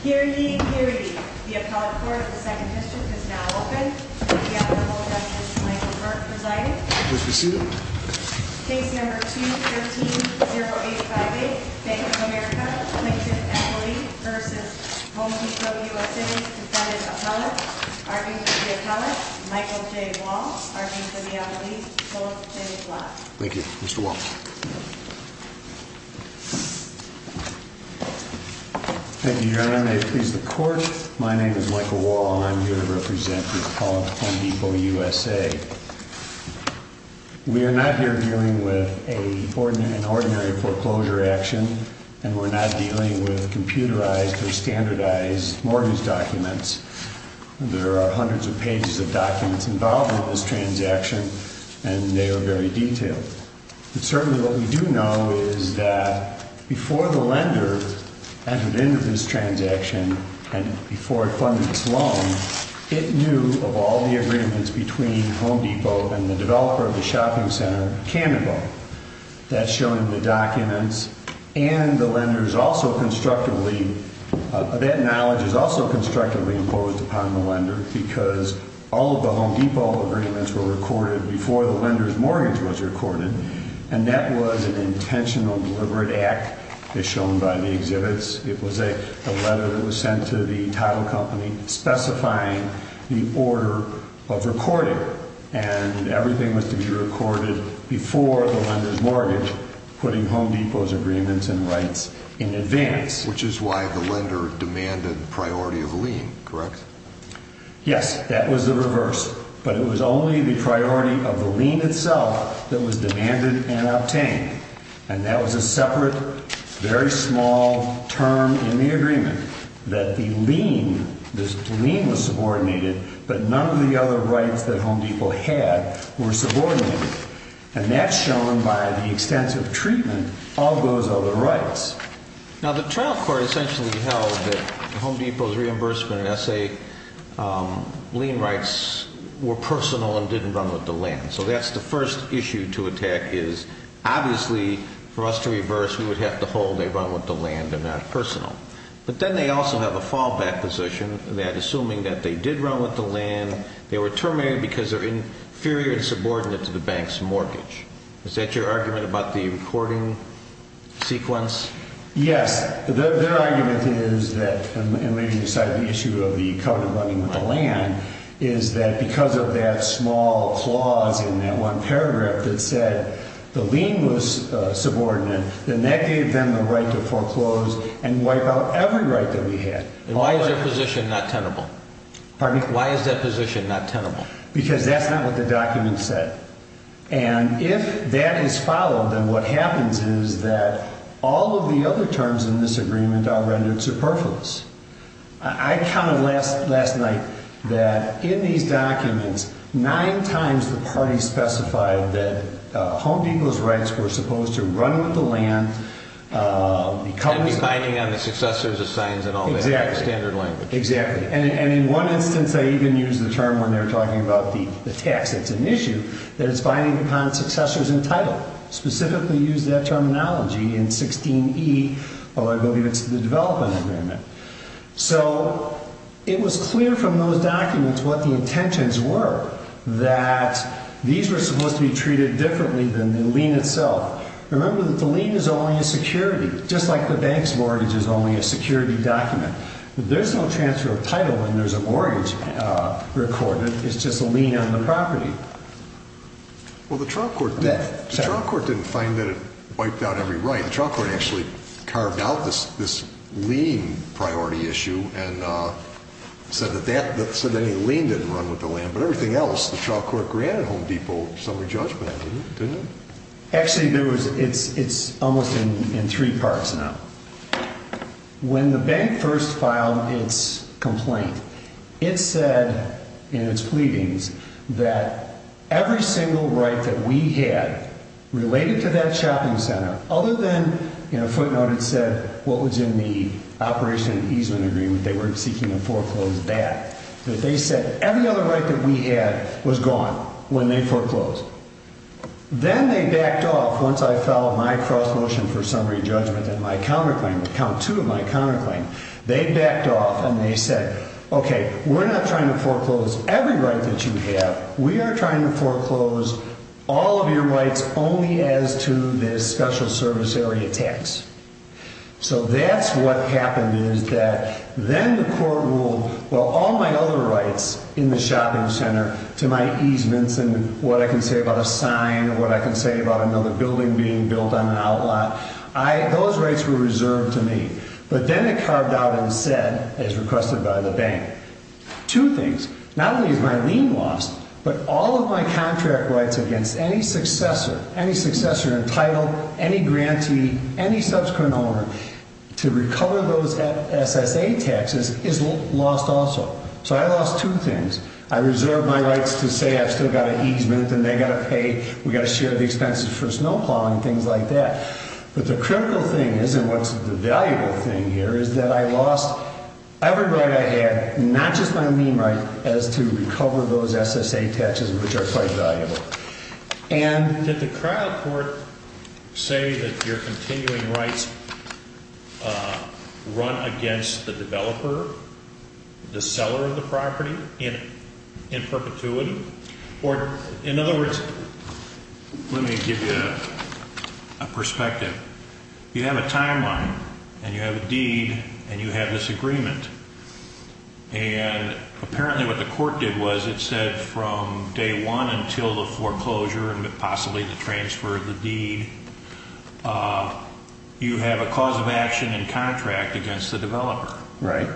Appellate, R.E. for the Appellate, Michael J. Wall, R.E. for the Appellate, both in black. Thank you, Mr. Wall. Thank you, Your Honor. May it please the Court, my name is Michael Wall, and I'm here to represent the Appellate, Home Depot, U.S.A. We are not here dealing with an ordinary foreclosure action, and we're not dealing with computerized or standardized mortgage documents. There are hundreds of pages of documents involved in this transaction, and they are very detailed. But certainly what we do know is that before the lender entered into this transaction and before it funded its loan, it knew of all the agreements between Home Depot and the developer of the shopping center, Cannonball. That's shown in the documents, and the lender's also constructively – that knowledge is also constructively imposed upon the lender because all of the Home Depot agreements were recorded before the lender's mortgage was recorded, and that was an intentional deliberate act, as shown by the exhibits. It was a letter that was sent to the title company specifying the order of recording, and everything was to be recorded before the lender's mortgage, putting Home Depot's agreements and rights in advance. Which is why the lender demanded priority of lien, correct? Yes, that was the reverse, but it was only the priority of the lien itself that was demanded and obtained. And that was a separate, very small term in the agreement, that the lien was subordinated, but none of the other rights that Home Depot had were subordinated. And that's shown by the extensive treatment of those other rights. Now, the trial court essentially held that Home Depot's reimbursement and SA lien rights were personal and didn't run with the land. So that's the first issue to attack is, obviously, for us to reverse, we would have to hold they run with the land and not personal. But then they also have a fallback position that, assuming that they did run with the land, they were terminated because they're inferior and subordinate to the bank's mortgage. Is that your argument about the recording sequence? Yes. Their argument is that, and maybe beside the issue of the covenant running with the land, is that because of that small clause in that one paragraph that said the lien was subordinate, then that gave them the right to foreclose and wipe out every right that we had. And why is their position not tenable? Pardon me? Why is their position not tenable? Because that's not what the document said. And if that is followed, then what happens is that all of the other terms in this agreement are rendered superfluous. I counted last night that in these documents, nine times the party specified that Home Depot's rights were supposed to run with the land. And be binding on the successors of signs and all that. Exactly. Standard language. Exactly. And in one instance, they even used the term when they were talking about the tax. It's an issue that is binding upon successors and title. Specifically used that terminology in 16E, although I believe it's the development agreement. So it was clear from those documents what the intentions were, that these were supposed to be treated differently than the lien itself. Remember that the lien is only a security, just like the bank's mortgage is only a security document. There's no transfer of title when there's a mortgage recorded. It's just a lien on the property. Well, the trial court didn't find that it wiped out every right. The trial court actually carved out this lien priority issue and said that any lien didn't run with the land. But everything else, the trial court granted Home Depot summary judgment on it, didn't it? Actually, it's almost in three parts now. When the bank first filed its complaint, it said in its pleadings that every single right that we had related to that shopping center, other than, you know, footnote it said what was in the Operation Easement Agreement, they weren't seeking to foreclose that, that they said every other right that we had was gone when they foreclosed. Then they backed off once I filed my cross motion for summary judgment and my counterclaim, count two of my counterclaim. They backed off and they said, okay, we're not trying to foreclose every right that you have. We are trying to foreclose all of your rights only as to this special service area tax. So that's what happened is that then the court ruled, well, all my other rights in the shopping center to my easements and what I can say about a sign, what I can say about another building being built on an outlot, those rights were reserved to me. But then it carved out and said, as requested by the bank, two things, not only is my lien lost, but all of my contract rights against any successor, any successor entitled, any grantee, any subsequent owner to recover those SSA taxes is lost also. So I lost two things. I reserved my rights to say I've still got an easement and they've got to pay, we've got to share the expenses for snow plowing, things like that. But the critical thing is, and what's the valuable thing here, is that I lost every right I had, not just my lien right, as to recover those SSA taxes, which are quite valuable. And did the trial court say that your continuing rights run against the developer, the seller of the property, in perpetuity? Or, in other words, let me give you a perspective. You have a timeline and you have a deed and you have this agreement. And apparently what the court did was it said from day one until the foreclosure and possibly the transfer of the deed, you have a cause of action and contract against the developer. Right.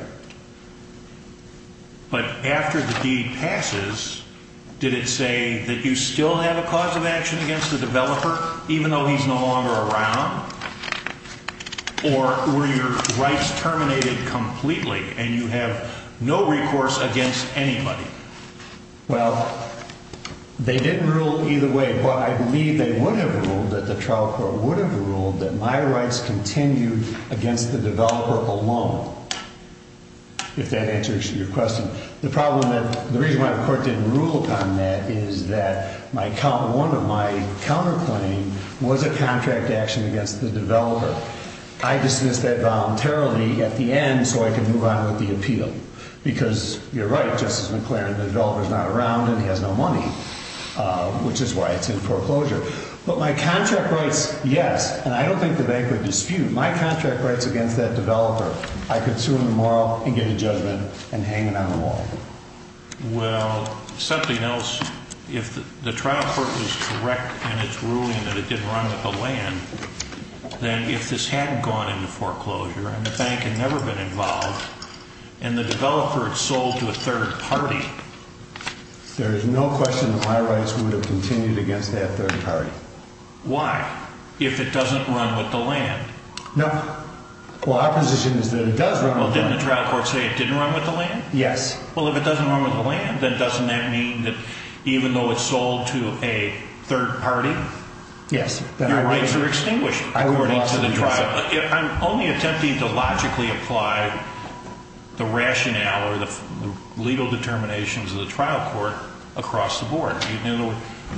But after the deed passes, did it say that you still have a cause of action against the developer, even though he's no longer around? Or were your rights terminated completely and you have no recourse against anybody? Well, they didn't rule either way. But I believe they would have ruled, that the trial court would have ruled, that my rights continued against the developer alone, if that answers your question. The reason why the court didn't rule upon that is that one of my counterclaims was a contract action against the developer. I dismissed that voluntarily at the end so I could move on with the appeal. Because you're right, Justice McClaren, the developer's not around and he has no money, which is why it's in foreclosure. But my contract rights, yes. And I don't think the bank would dispute my contract rights against that developer. I could sue him tomorrow and get a judgment and hang it on the wall. Well, something else. If the trial court was correct in its ruling that it didn't run with the land, then if this hadn't gone into foreclosure and the bank had never been involved and the developer had sold to a third party, there is no question that my rights would have continued against that third party. Why? If it doesn't run with the land? No. Well, our position is that it does run with the land. Well, didn't the trial court say it didn't run with the land? Yes. Well, if it doesn't run with the land, then doesn't that mean that even though it sold to a third party, your rights are extinguished according to the trial? I'm only attempting to logically apply the rationale or the legal determinations of the trial court across the board. I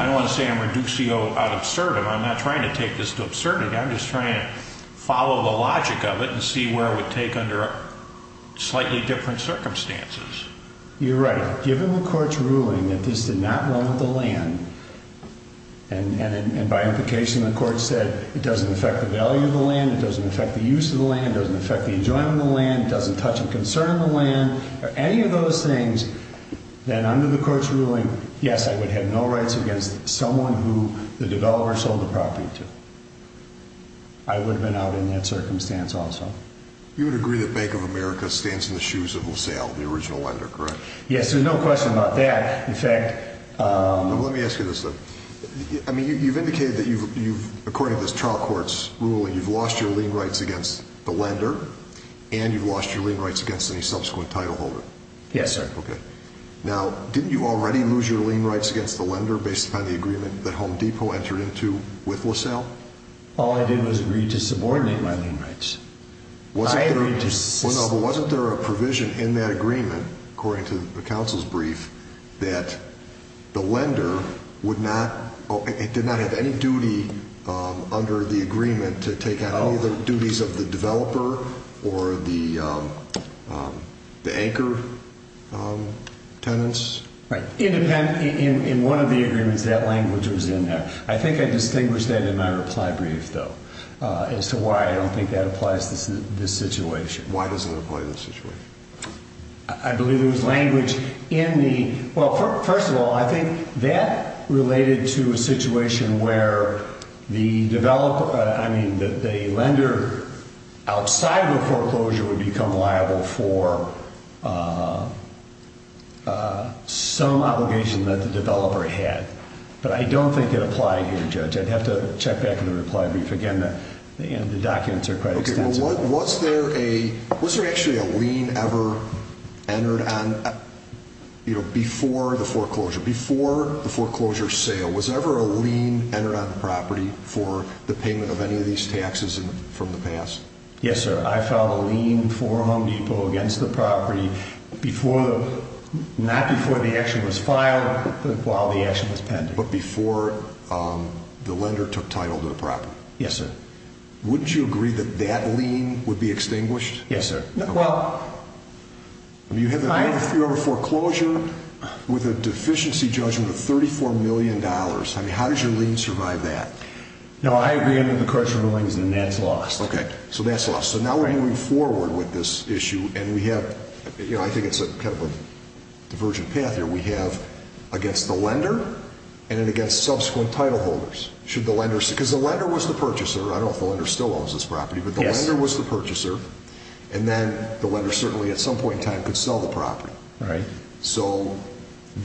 don't want to say I'm reducio ad absurdum. I'm not trying to take this to absurdity. I'm just trying to follow the logic of it and see where it would take under slightly different circumstances. You're right. Given the court's ruling that this did not run with the land, and by implication the court said it doesn't affect the value of the land, it doesn't affect the use of the land, it doesn't affect the enjoyment of the land, it doesn't touch and concern the land or any of those things, then under the court's ruling, yes, I would have no rights against someone who the developer sold the property to. I would have been out in that circumstance also. You would agree that Bank of America stands in the shoes of LaSalle, the original lender, correct? Yes, there's no question about that. Let me ask you this, though. You've indicated that according to this trial court's ruling, you've lost your lien rights against the lender and you've lost your lien rights against any subsequent title holder. Yes, sir. Okay. Now, didn't you already lose your lien rights against the lender based upon the agreement that Home Depot entered into with LaSalle? All I did was agree to subordinate my lien rights. Wasn't there a provision in that agreement, according to the counsel's brief, that the lender did not have any duty under the agreement to take on any of the duties of the developer or the anchor tenants? Right. In one of the agreements, that language was in there. I think I distinguished that in my reply brief, though, as to why I don't think that applies to this situation. Why doesn't it apply to this situation? I believe there was language in the – well, first of all, I think that related to a situation where the developer – I mean, the lender outside of the foreclosure would become liable for some obligation that the developer had. But I don't think it applied here, Judge. I'd have to check back in the reply brief. Again, the documents are quite extensive. Okay. Well, was there a – was there actually a lien ever entered on – you know, before the foreclosure, before the foreclosure sale? Was there ever a lien entered on the property for the payment of any of these taxes from the past? Yes, sir. I filed a lien for Home Depot against the property before – not before the action was filed, but while the action was pending. But before the lender took title to the property? Yes, sir. Wouldn't you agree that that lien would be extinguished? Yes, sir. Well – I mean, you have a – you have a foreclosure with a deficiency judgment of $34 million. I mean, how does your lien survive that? No, I agree under the courts' rulings, and that's lost. Okay, so that's lost. So now we're moving forward with this issue, and we have – you know, I think it's kind of a divergent path here. We have against the lender and then against subsequent title holders. Should the lender – because the lender was the purchaser. I don't know if the lender still owns this property. Yes, sir. But the lender was the purchaser, and then the lender certainly at some point in time could sell the property. Right. So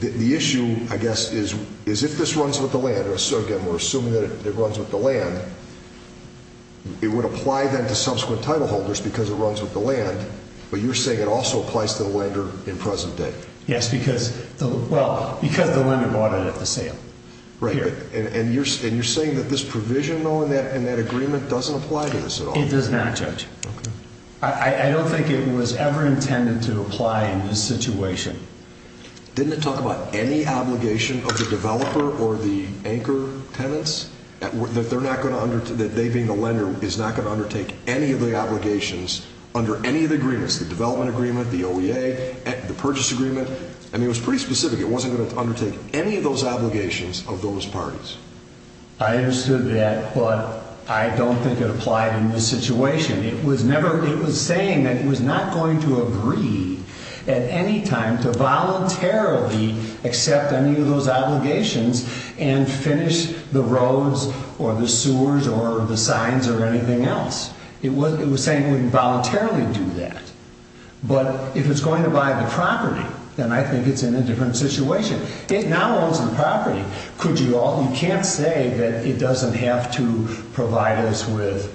the issue, I guess, is if this runs with the lender – so, again, we're assuming that it runs with the land. It would apply then to subsequent title holders because it runs with the land. But you're saying it also applies to the lender in present day? Yes, because – well, because the lender bought it at the sale. Right. And you're saying that this provision, though, and that agreement doesn't apply to this at all? It does not, Judge. Okay. I don't think it was ever intended to apply in this situation. Didn't it talk about any obligation of the developer or the anchor tenants that they're not going to – that they, being the lender, is not going to undertake any of the obligations under any of the agreements – the development agreement, the OEA, the purchase agreement? I mean, it was pretty specific. It wasn't going to undertake any of those obligations of those parties. I understood that, but I don't think it applied in this situation. It was never – it was saying that it was not going to agree at any time to voluntarily accept any of those obligations and finish the roads or the sewers or the signs or anything else. It was saying it wouldn't voluntarily do that. But if it's going to buy the property, then I think it's in a different situation. It now owns the property. You can't say that it doesn't have to provide us with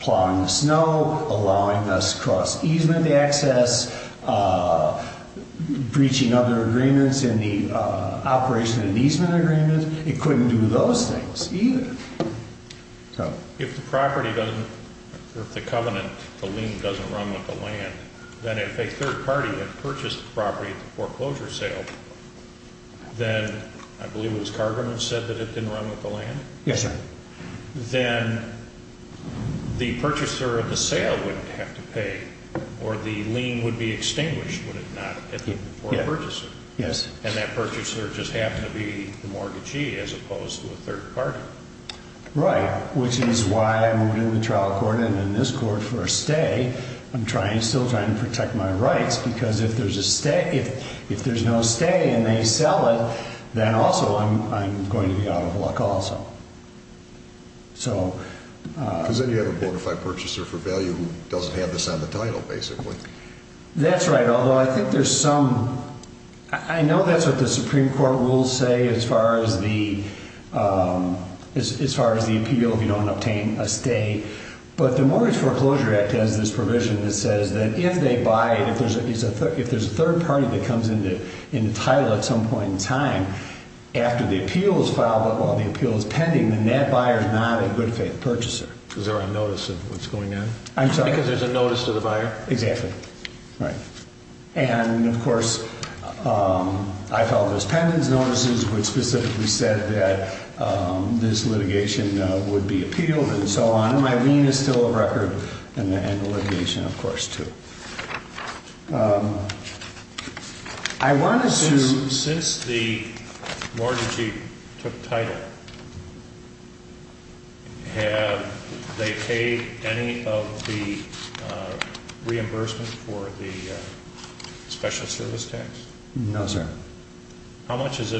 plowing the snow, allowing us cross easement access, breaching other agreements in the operation of the easement agreement. It couldn't do those things either. If the property doesn't – if the covenant, the lien, doesn't run with the land, then if a third party had purchased the property at the foreclosure sale, then – I believe it was Carver who said that it didn't run with the land? Yes, sir. Then the purchaser of the sale wouldn't have to pay, or the lien would be extinguished, would it not, for the purchaser? Yes. And that purchaser just happened to be the mortgagee as opposed to a third party. Right, which is why I moved into the trial court and in this court for a stay. I'm still trying to protect my rights because if there's a stay – if there's no stay and they sell it, then also I'm going to be out of luck also. So – Because then you have a bona fide purchaser for value who doesn't have this on the title, basically. That's right, although I think there's some – I know that's what the Supreme Court rules say as far as the appeal if you don't obtain a stay, but the Mortgage Foreclosure Act has this provision that says that if they buy – if there's a third party that comes into title at some point in time after the appeal is filed, but while the appeal is pending, then that buyer is not a good faith purchaser. Is there a notice of what's going on? I'm sorry? Because there's a notice to the buyer? Exactly. Right. And, of course, I filed this pendant's notices which specifically said that this litigation would be appealed and so on. My lien is still a record and the litigation, of course, too. I want to – Since the mortgagee took title, have they paid any of the reimbursement for the special service tax? No, sir. How much has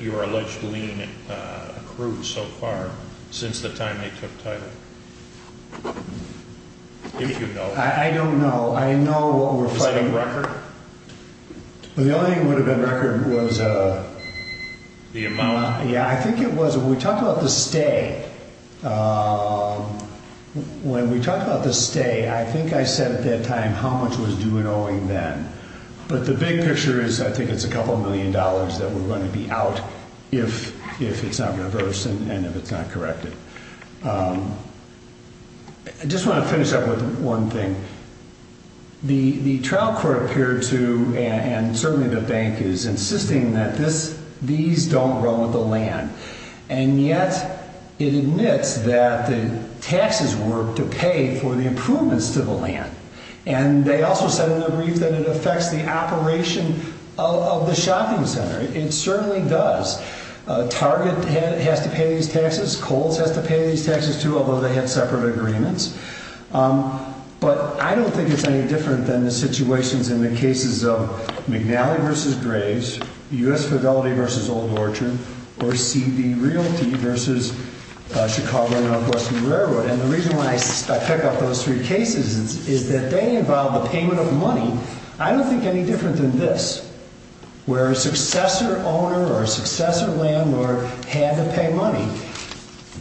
your alleged lien accrued so far since the time they took title? If you know. I don't know. I know what we're fighting – Is that a record? The only thing that would have been a record was – The amount? Yeah, I think it was – we talked about the stay. When we talked about the stay, I think I said at that time how much was due in owing then. But the big picture is I think it's a couple million dollars that we're going to be out if it's not reversed and if it's not corrected. I just want to finish up with one thing. The trial court appeared to, and certainly the bank is, insisting that these don't run with the land. And yet it admits that the taxes were to pay for the improvements to the land. And they also said in their brief that it affects the operation of the shopping center. It certainly does. Target has to pay these taxes. Kohl's has to pay these taxes, too, although they have separate agreements. But I don't think it's any different than the situations in the cases of McNally v. Graves, U.S. Fidelity v. Old Orchard, or CD Realty v. Chicago Northwestern Railroad. And the reason why I pick up those three cases is that they involve the payment of money. I don't think any different than this, where a successor owner or a successor landlord had to pay money.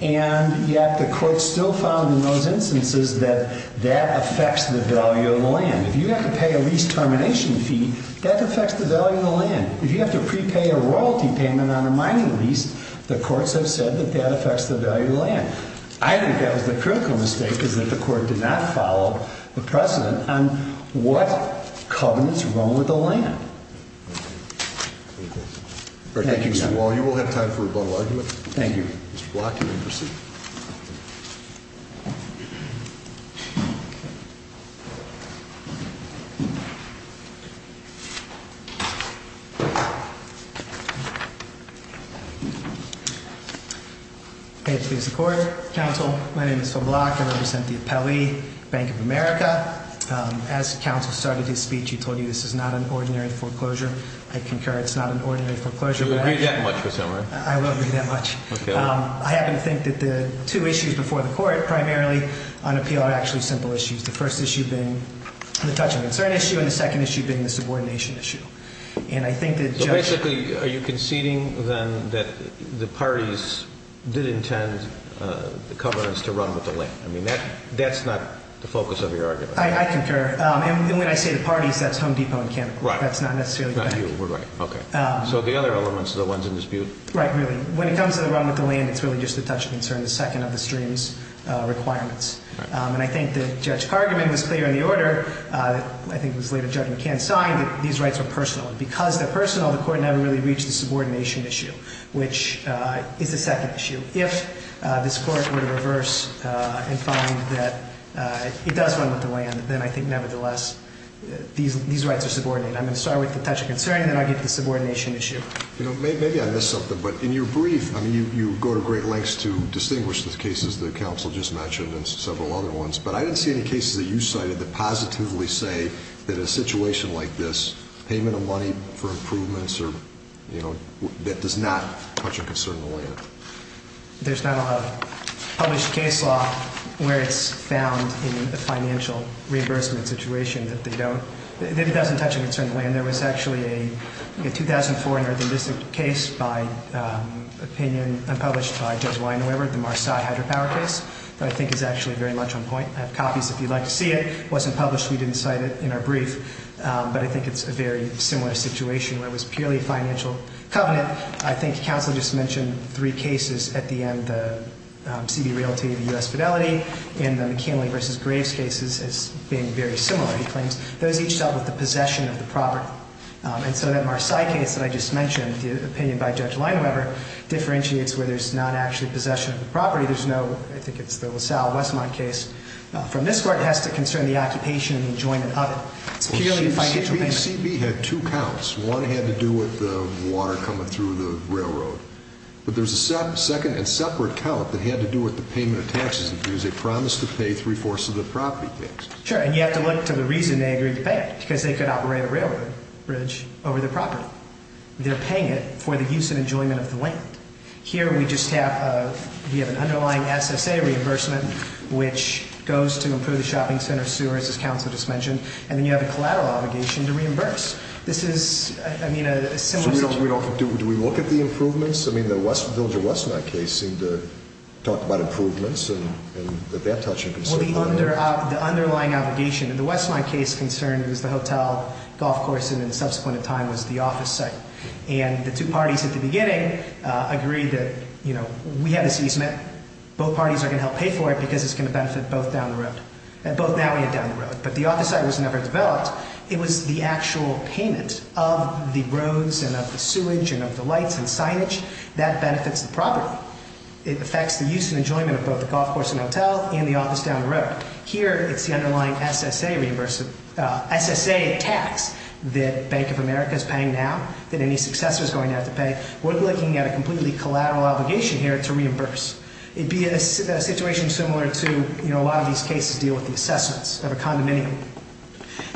And yet the court still found in those instances that that affects the value of the land. If you have to pay a lease termination fee, that affects the value of the land. If you have to prepay a royalty payment on a mining lease, the courts have said that that affects the value of the land. I think that was the critical mistake, is that the court did not follow the precedent on what covenants run with the land. Thank you, Mr. Wall. You will have time for a bundle argument. Thank you. Mr. Block, you may proceed. Pay it to the court. Counsel, my name is Phil Block. I represent the Appellee Bank of America. As counsel started his speech, he told you this is not an ordinary foreclosure. I concur. It's not an ordinary foreclosure. You agree that much with him, right? I will agree that much. Okay. I happen to think that the two issues before the court, primarily on appeal, are actually simple issues. The first issue being the touching concern issue and the second issue being the subordination issue. And I think that just… Basically, are you conceding then that the parties did intend the covenants to run with the land? I mean, that's not the focus of your argument. I concur. And when I say the parties, that's Home Depot and Cantercourt. Right. That's not necessarily the bank. Not you. We're right. Okay. So the other elements are the ones in dispute. Right. Really. When it comes to the run with the land, it's really just the touching concern, the second of the stream's requirements. And I think that Judge Kargaman was clear in the order, I think it was later Judge McCann signed, that these rights were personal. And because they're personal, the court never really reached the subordination issue, which is the second issue. If this court were to reverse and find that it does run with the land, then I think nevertheless these rights are subordinated. I'm going to start with the touching concern and then I'll get to the subordination issue. You know, maybe I missed something, but in your brief, I mean, you go to great lengths to distinguish the cases that counsel just mentioned and several other ones, but I didn't see any cases that you cited that positively say that a situation like this, payment of money for improvements or, you know, that does not touch a concern in the land. There's not a published case law where it's found in the financial reimbursement situation that they don't, that it doesn't touch a concern in the land. There was actually a 2004 Northern District case by opinion, unpublished by Judge Weinweber, the Marsai Hydropower case, that I think is actually very much on point. I have copies if you'd like to see it. It wasn't published. We didn't cite it in our brief. But I think it's a very similar situation where it was purely a financial covenant. I think counsel just mentioned three cases at the end, the CB Realty, the U.S. Fidelity, and the McKinley v. Graves cases as being very similar, he claims. Those each dealt with the possession of the property. And so that Marsai case that I just mentioned, the opinion by Judge Weinweber, differentiates where there's not actually possession of the property. There's no, I think it's the LaSalle-Westmont case. From this court, it has to concern the occupation and enjoyment of it. CB had two counts. One had to do with the water coming through the railroad. But there's a second and separate count that had to do with the payment of taxes, because they promised to pay three-fourths of the property tax. Sure, and you have to look to the reason they agreed to pay it, because they could operate a railroad bridge over the property. They're paying it for the use and enjoyment of the land. Here we just have an underlying SSA reimbursement, which goes to improve the shopping center, sewers, as counsel just mentioned. And then you have a collateral obligation to reimburse. This is, I mean, a similar situation. So we don't, do we look at the improvements? I mean, the Westville v. Westmont case seemed to talk about improvements, and that they're touching. Well, the underlying obligation in the Westmont case concerned was the hotel, golf course, and then subsequent in time was the office site. And the two parties at the beginning agreed that, you know, we have this easement. Both parties are going to help pay for it, because it's going to benefit both down the road, both that way and down the road. But the office site was never developed. It was the actual payment of the roads and of the sewage and of the lights and signage that benefits the property. It affects the use and enjoyment of both the golf course and hotel and the office down the road. Here it's the underlying SSA tax that Bank of America is paying now, that any successor is going to have to pay. We're looking at a completely collateral obligation here to reimburse. It'd be a situation similar to, you know, a lot of these cases deal with the assessments of a condominium.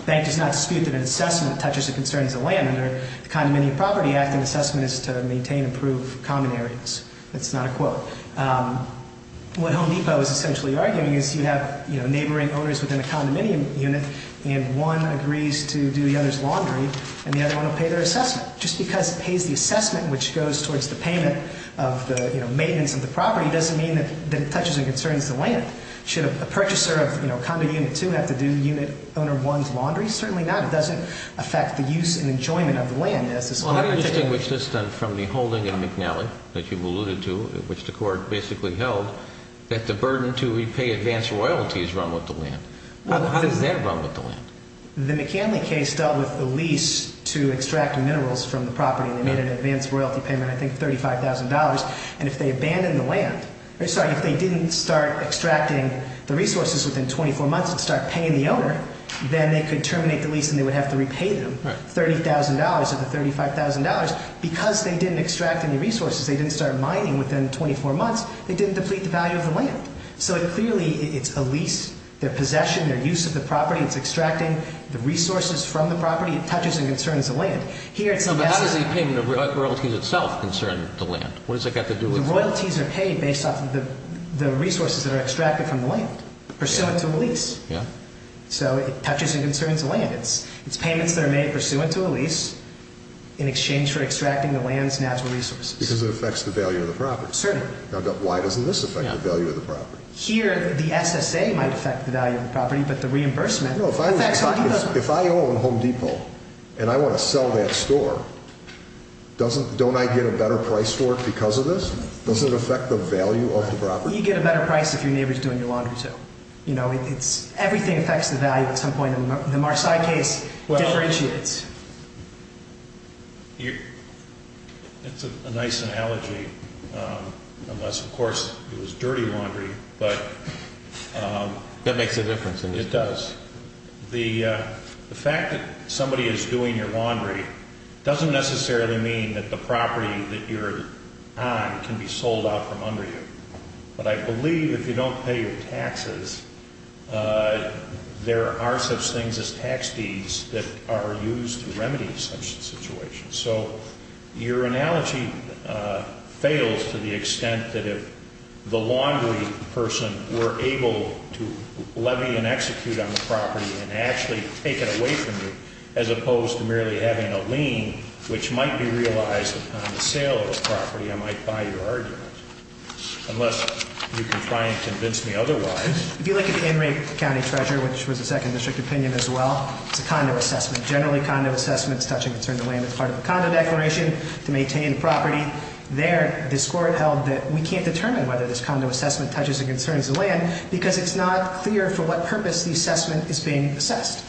Bank does not dispute that an assessment touches the concerns of land under the Condominium Property Act. An assessment is to maintain and improve common areas. That's not a quote. What Home Depot is essentially arguing is you have, you know, neighboring owners within a condominium unit, and one agrees to do the other's laundry, and the other one will pay their assessment. Just because it pays the assessment, which goes towards the payment of the, you know, maintenance of the property doesn't mean that it touches or concerns the land. Should a purchaser of, you know, condo unit two have to do unit owner one's laundry? Certainly not. It doesn't affect the use and enjoyment of the land. Well, how do you distinguish this from the holding in McNally that you've alluded to, which the Court basically held that the burden to repay advance royalties run with the land? How does that run with the land? The McNally case dealt with a lease to extract minerals from the property, and they made an advance royalty payment, I think $35,000. And if they abandoned the land, sorry, if they didn't start extracting the resources within 24 months and start paying the owner, then they could terminate the lease and they would have to repay them. Right. $30,000 of the $35,000. Because they didn't extract any resources, they didn't start mining within 24 months, they didn't deplete the value of the land. So clearly it's a lease, their possession, their use of the property. It's extracting the resources from the property. It touches and concerns the land. But how does the payment of royalties itself concern the land? What has that got to do with it? The royalties are paid based off of the resources that are extracted from the land, pursuant to a lease. Yeah. So it touches and concerns the land. It's payments that are made pursuant to a lease in exchange for extracting the land's natural resources. Because it affects the value of the property. Certainly. Why doesn't this affect the value of the property? Here, the SSA might affect the value of the property, but the reimbursement affects Home Depot. If I own Home Depot and I want to sell that store, don't I get a better price for it because of this? Doesn't it affect the value of the property? You get a better price if your neighbor's doing your laundry, too. Everything affects the value at some point. The Marseilles case differentiates. It's a nice analogy, unless, of course, it was dirty laundry. That makes a difference, doesn't it? It does. The fact that somebody is doing your laundry doesn't necessarily mean that the property that you're on can be sold out from under you. But I believe if you don't pay your taxes, there are such things as tax deeds that are used to remedy such situations. So your analogy fails to the extent that if the laundry person were able to levy and execute on the property and actually take it away from you, as opposed to merely having a lien, which might be realized upon the sale of the property, I might buy your argument. Unless you can try and convince me otherwise. If you look at the Enright County Treasurer, which was a second district opinion as well, it's a condo assessment. Generally, condo assessments touch and concern the land as part of a condo declaration to maintain the property. There, this Court held that we can't determine whether this condo assessment touches and concerns the land because it's not clear for what purpose the assessment is being assessed.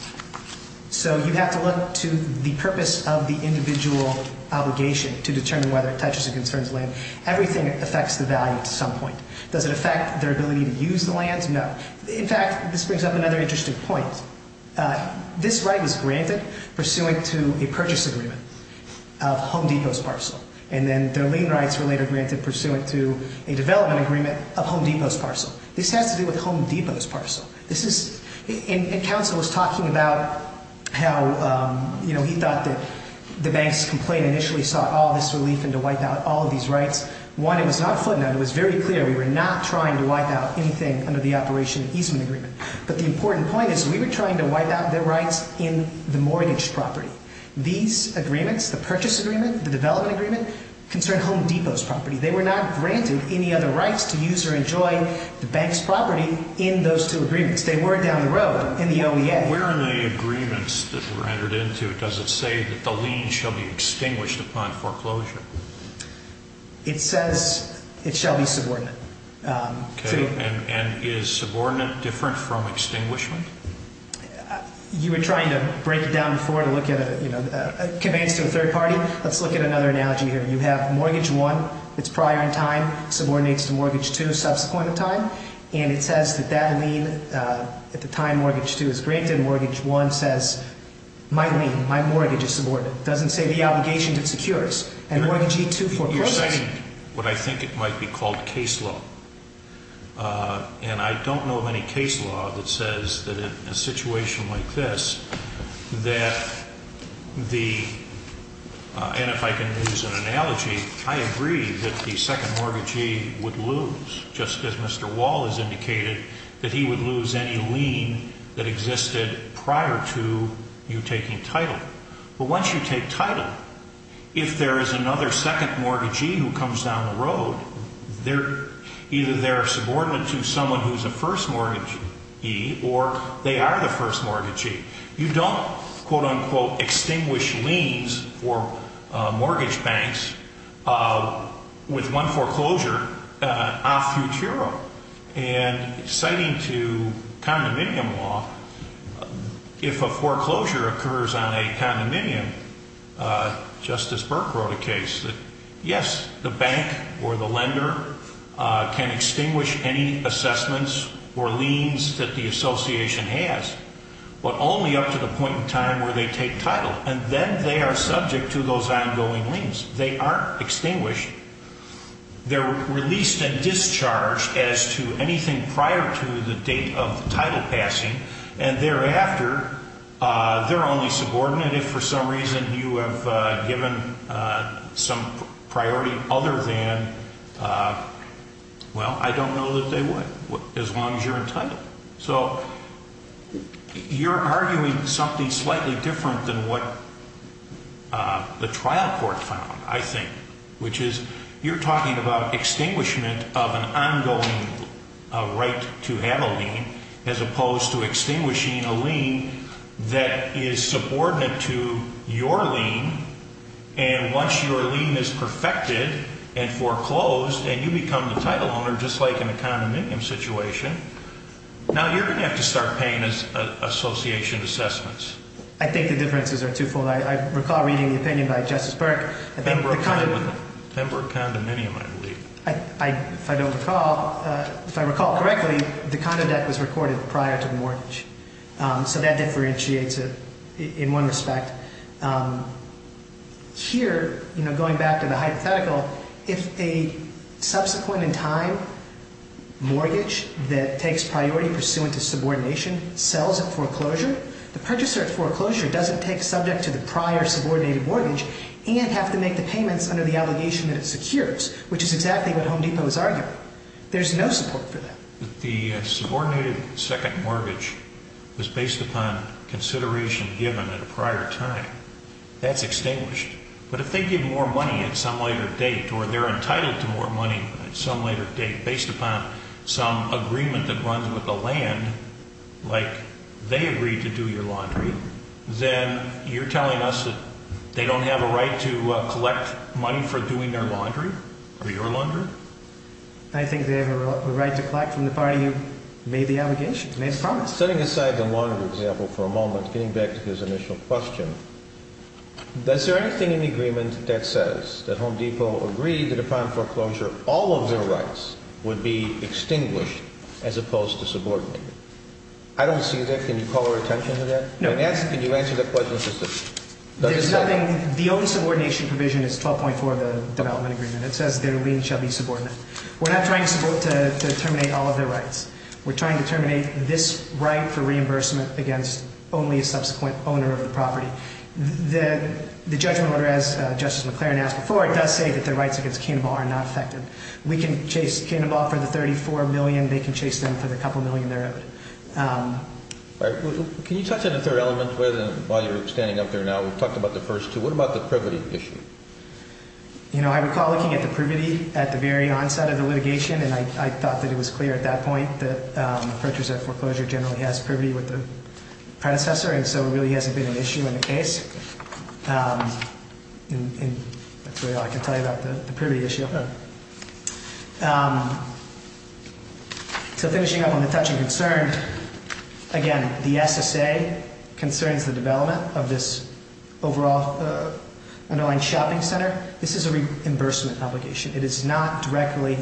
So you have to look to the purpose of the individual obligation to determine whether it touches and concerns the land. Everything affects the value at some point. Does it affect their ability to use the land? No. In fact, this brings up another interesting point. This right was granted pursuant to a purchase agreement of Home Depot's parcel. And then their lien rights were later granted pursuant to a development agreement of Home Depot's parcel. This has to do with Home Depot's parcel. And counsel was talking about how he thought that the bank's complaint initially sought all this relief and to wipe out all of these rights. One, it was not a footnote. It was very clear we were not trying to wipe out anything under the Operation Easement Agreement. But the important point is we were trying to wipe out their rights in the mortgage property. These agreements, the purchase agreement, the development agreement, concern Home Depot's property. They were not granted any other rights to use or enjoy the bank's property in those two agreements. They were down the road in the OEA. Where are the agreements that were entered into? Does it say that the lien shall be extinguished upon foreclosure? It says it shall be subordinate. And is subordinate different from extinguishment? You were trying to break it down before to look at it. It conveys to a third party. Let's look at another analogy here. You have Mortgage I that's prior in time, subordinates to Mortgage II subsequent in time, and it says that that lien at the time Mortgage II is granted and Mortgage I says my lien, my mortgage is subordinate. It doesn't say the obligations it secures. And Mortgage II forecloses. You're saying what I think it might be called case law. And I don't know of any case law that says that in a situation like this that the, and if I can use an analogy, I agree that the second mortgagee would lose, just as Mr. Wall has indicated, that he would lose any lien that existed prior to you taking title. But once you take title, if there is another second mortgagee who comes down the road, either they're subordinate to someone who's a first mortgagee or they are the first mortgagee. You don't, quote, unquote, extinguish liens for mortgage banks with one foreclosure off Futuro. And citing to condominium law, if a foreclosure occurs on a condominium, Justice Burke wrote a case that, yes, the bank or the lender can extinguish any assessments or liens that the association has, but only up to the point in time where they take title. And then they are subject to those ongoing liens. They aren't extinguished. They're released and discharged as to anything prior to the date of title passing. And thereafter, they're only subordinate if for some reason you have given some priority other than, well, I don't know that they would, as long as you're entitled. So you're arguing something slightly different than what the trial court found, I think, which is you're talking about extinguishment of an ongoing right to have a lien as opposed to extinguishing a lien that is subordinate to your lien. And once your lien is perfected and foreclosed and you become the title owner, just like in a condominium situation, now you're going to have to start paying association assessments. I think the differences are twofold. I recall reading the opinion by Justice Burke. Denver Condominium, I believe. If I don't recall, if I recall correctly, the condo debt was recorded prior to the mortgage. So that differentiates it in one respect. Here, going back to the hypothetical, if a subsequent in time mortgage that takes priority pursuant to subordination sells at foreclosure, the purchaser at foreclosure doesn't take subject to the prior subordinated mortgage and have to make the payments under the obligation that it secures, which is exactly what Home Depot is arguing. There's no support for that. The subordinated second mortgage was based upon consideration given at a prior time. That's extinguished. But if they give more money at some later date or they're entitled to more money at some later date based upon some agreement that runs with the land, like they agreed to do your laundry, then you're telling us that they don't have a right to collect money for doing their laundry or your laundry? I think they have a right to collect from the party who made the obligation, made the promise. Setting aside the laundry example for a moment, getting back to his initial question, does there anything in the agreement that says that Home Depot agreed to define foreclosure all of their rights would be extinguished as opposed to subordinated? I don't see that. Can you call our attention to that? No. Can you answer that question? There's nothing. The own subordination provision is 12.4 of the development agreement. It says their lien shall be subordinate. We're not trying to terminate all of their rights. We're trying to terminate this right for reimbursement against only a subsequent owner of the property. The judgment letter, as Justice McClaren asked before, it does say that their rights against Canabal are not affected. We can chase Canabal for the $34 million. They can chase them for the couple million they're owed. Can you touch on the third element while you're standing up there now? We've talked about the first two. What about the privity issue? You know, I recall looking at the privity at the very onset of the litigation, and I thought that it was clear at that point that approachers at foreclosure generally has privity with the predecessor, and so it really hasn't been an issue in the case. That's really all I can tell you about the privity issue. So finishing up on the touching concern, again, the SSA concerns the development of this overall annoying shopping center. This is a reimbursement obligation. It is not directly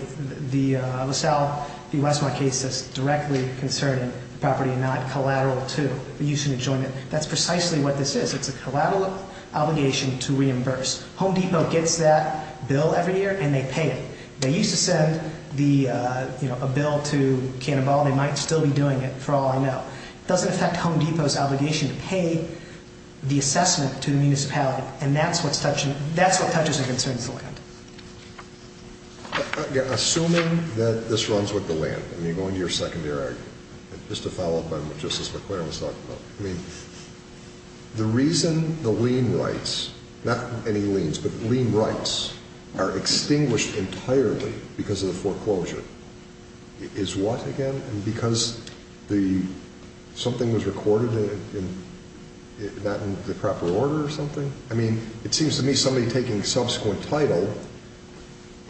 the LaSalle v. Westmore case that's directly concerning the property and not collateral to the use and enjoyment. That's precisely what this is. It's a collateral obligation to reimburse. Home Depot gets that bill every year, and they pay it. They used to send a bill to Canabal. They might still be doing it, for all I know. It doesn't affect Home Depot's obligation to pay the assessment to the municipality, and that's what touches and concerns the land. Assuming that this runs with the land, and you go into your secondary argument, just to follow up on what Justice McClaren was talking about, I mean, the reason the lien rights, not any liens, but lien rights, are extinguished entirely because of the foreclosure is what, again? Because something was recorded not in the proper order or something? I mean, it seems to me somebody taking subsequent title,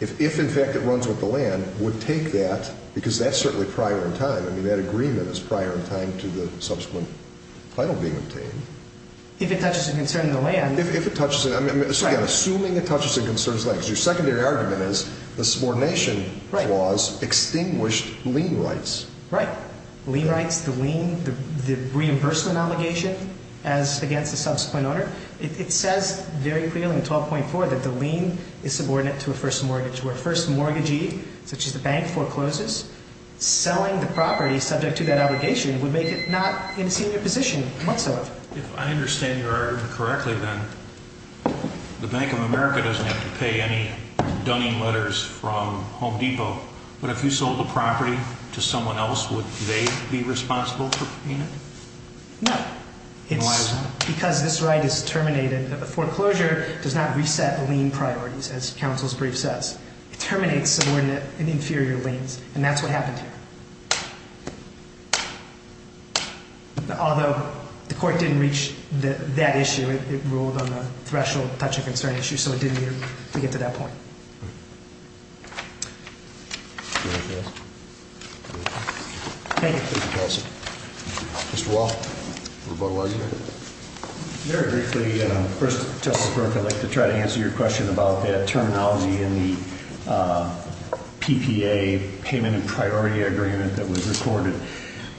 if, in fact, it runs with the land, would take that because that's certainly prior in time. I mean, that agreement is prior in time to the subsequent title being obtained. If it touches and concerns the land. If it touches, I mean, assuming it touches and concerns the land, because your secondary argument is the subordination clause extinguished lien rights. Right. Lien rights, the lien, the reimbursement obligation as against the subsequent owner. It says very clearly in 12.4 that the lien is subordinate to a first mortgage, where first mortgagee, such as the bank, forecloses. Selling the property subject to that obligation would make it not in a senior position whatsoever. If I understand your argument correctly, then, the Bank of America doesn't have to pay any donating letters from Home Depot, but if you sold the property to someone else, would they be responsible for paying it? No. Why is that? Because this right is terminated, the foreclosure does not reset the lien priorities, as counsel's brief says. It terminates subordinate and inferior liens, and that's what happened here. Although the court didn't reach that issue, it ruled on a threshold touch and concern issue, so it didn't get to that point. Thank you. Thank you, Coulson. Mr. Wall? Very briefly, first, Justice Burke, I'd like to try to answer your question about the terminology in the PPA payment and priority agreement that was recorded.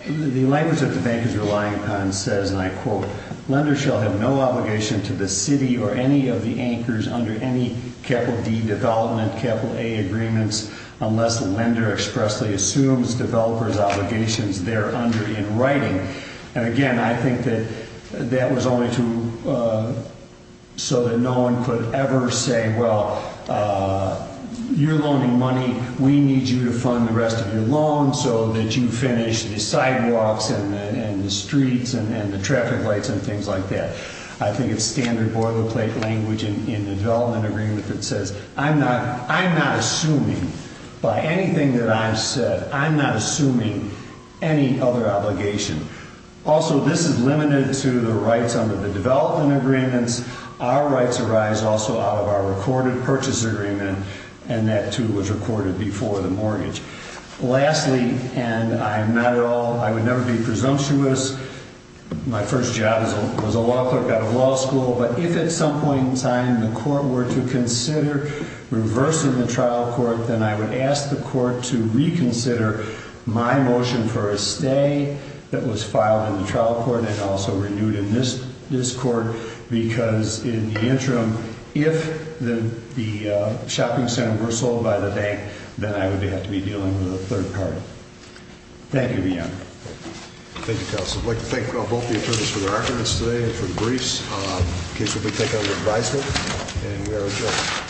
The language that the bank is relying upon says, and I quote, lenders shall have no obligation to the city or any of the anchors under any capital D development capital A agreements unless the lender expressly assumes developer's obligations there under in writing. And again, I think that that was only to, so that no one could ever say, well, you're loaning money, we need you to fund the rest of your loan so that you finish the sidewalks and the streets and the traffic lights and things like that. I think it's standard boilerplate language in the development agreement that says, I'm not assuming by anything that I've said, I'm not assuming any other obligation. Also, this is limited to the rights under the development agreements. Our rights arise also out of our recorded purchase agreement, and that, too, was recorded before the mortgage. Lastly, and I'm not at all, I would never be presumptuous, my first job was a law clerk out of law school, but if at some point in time the court were to consider reversing the trial court, then I would ask the court to reconsider my motion for a stay that was filed in the trial court and also renewed in this court, because in the interim, if the shopping center were sold by the bank, then I would have to be dealing with a third party. Thank you. Thank you, Counsel. I'd like to thank both the attorneys for their efforts today and for the briefs. In case there's any take-out of your advisement. And we are adjourned.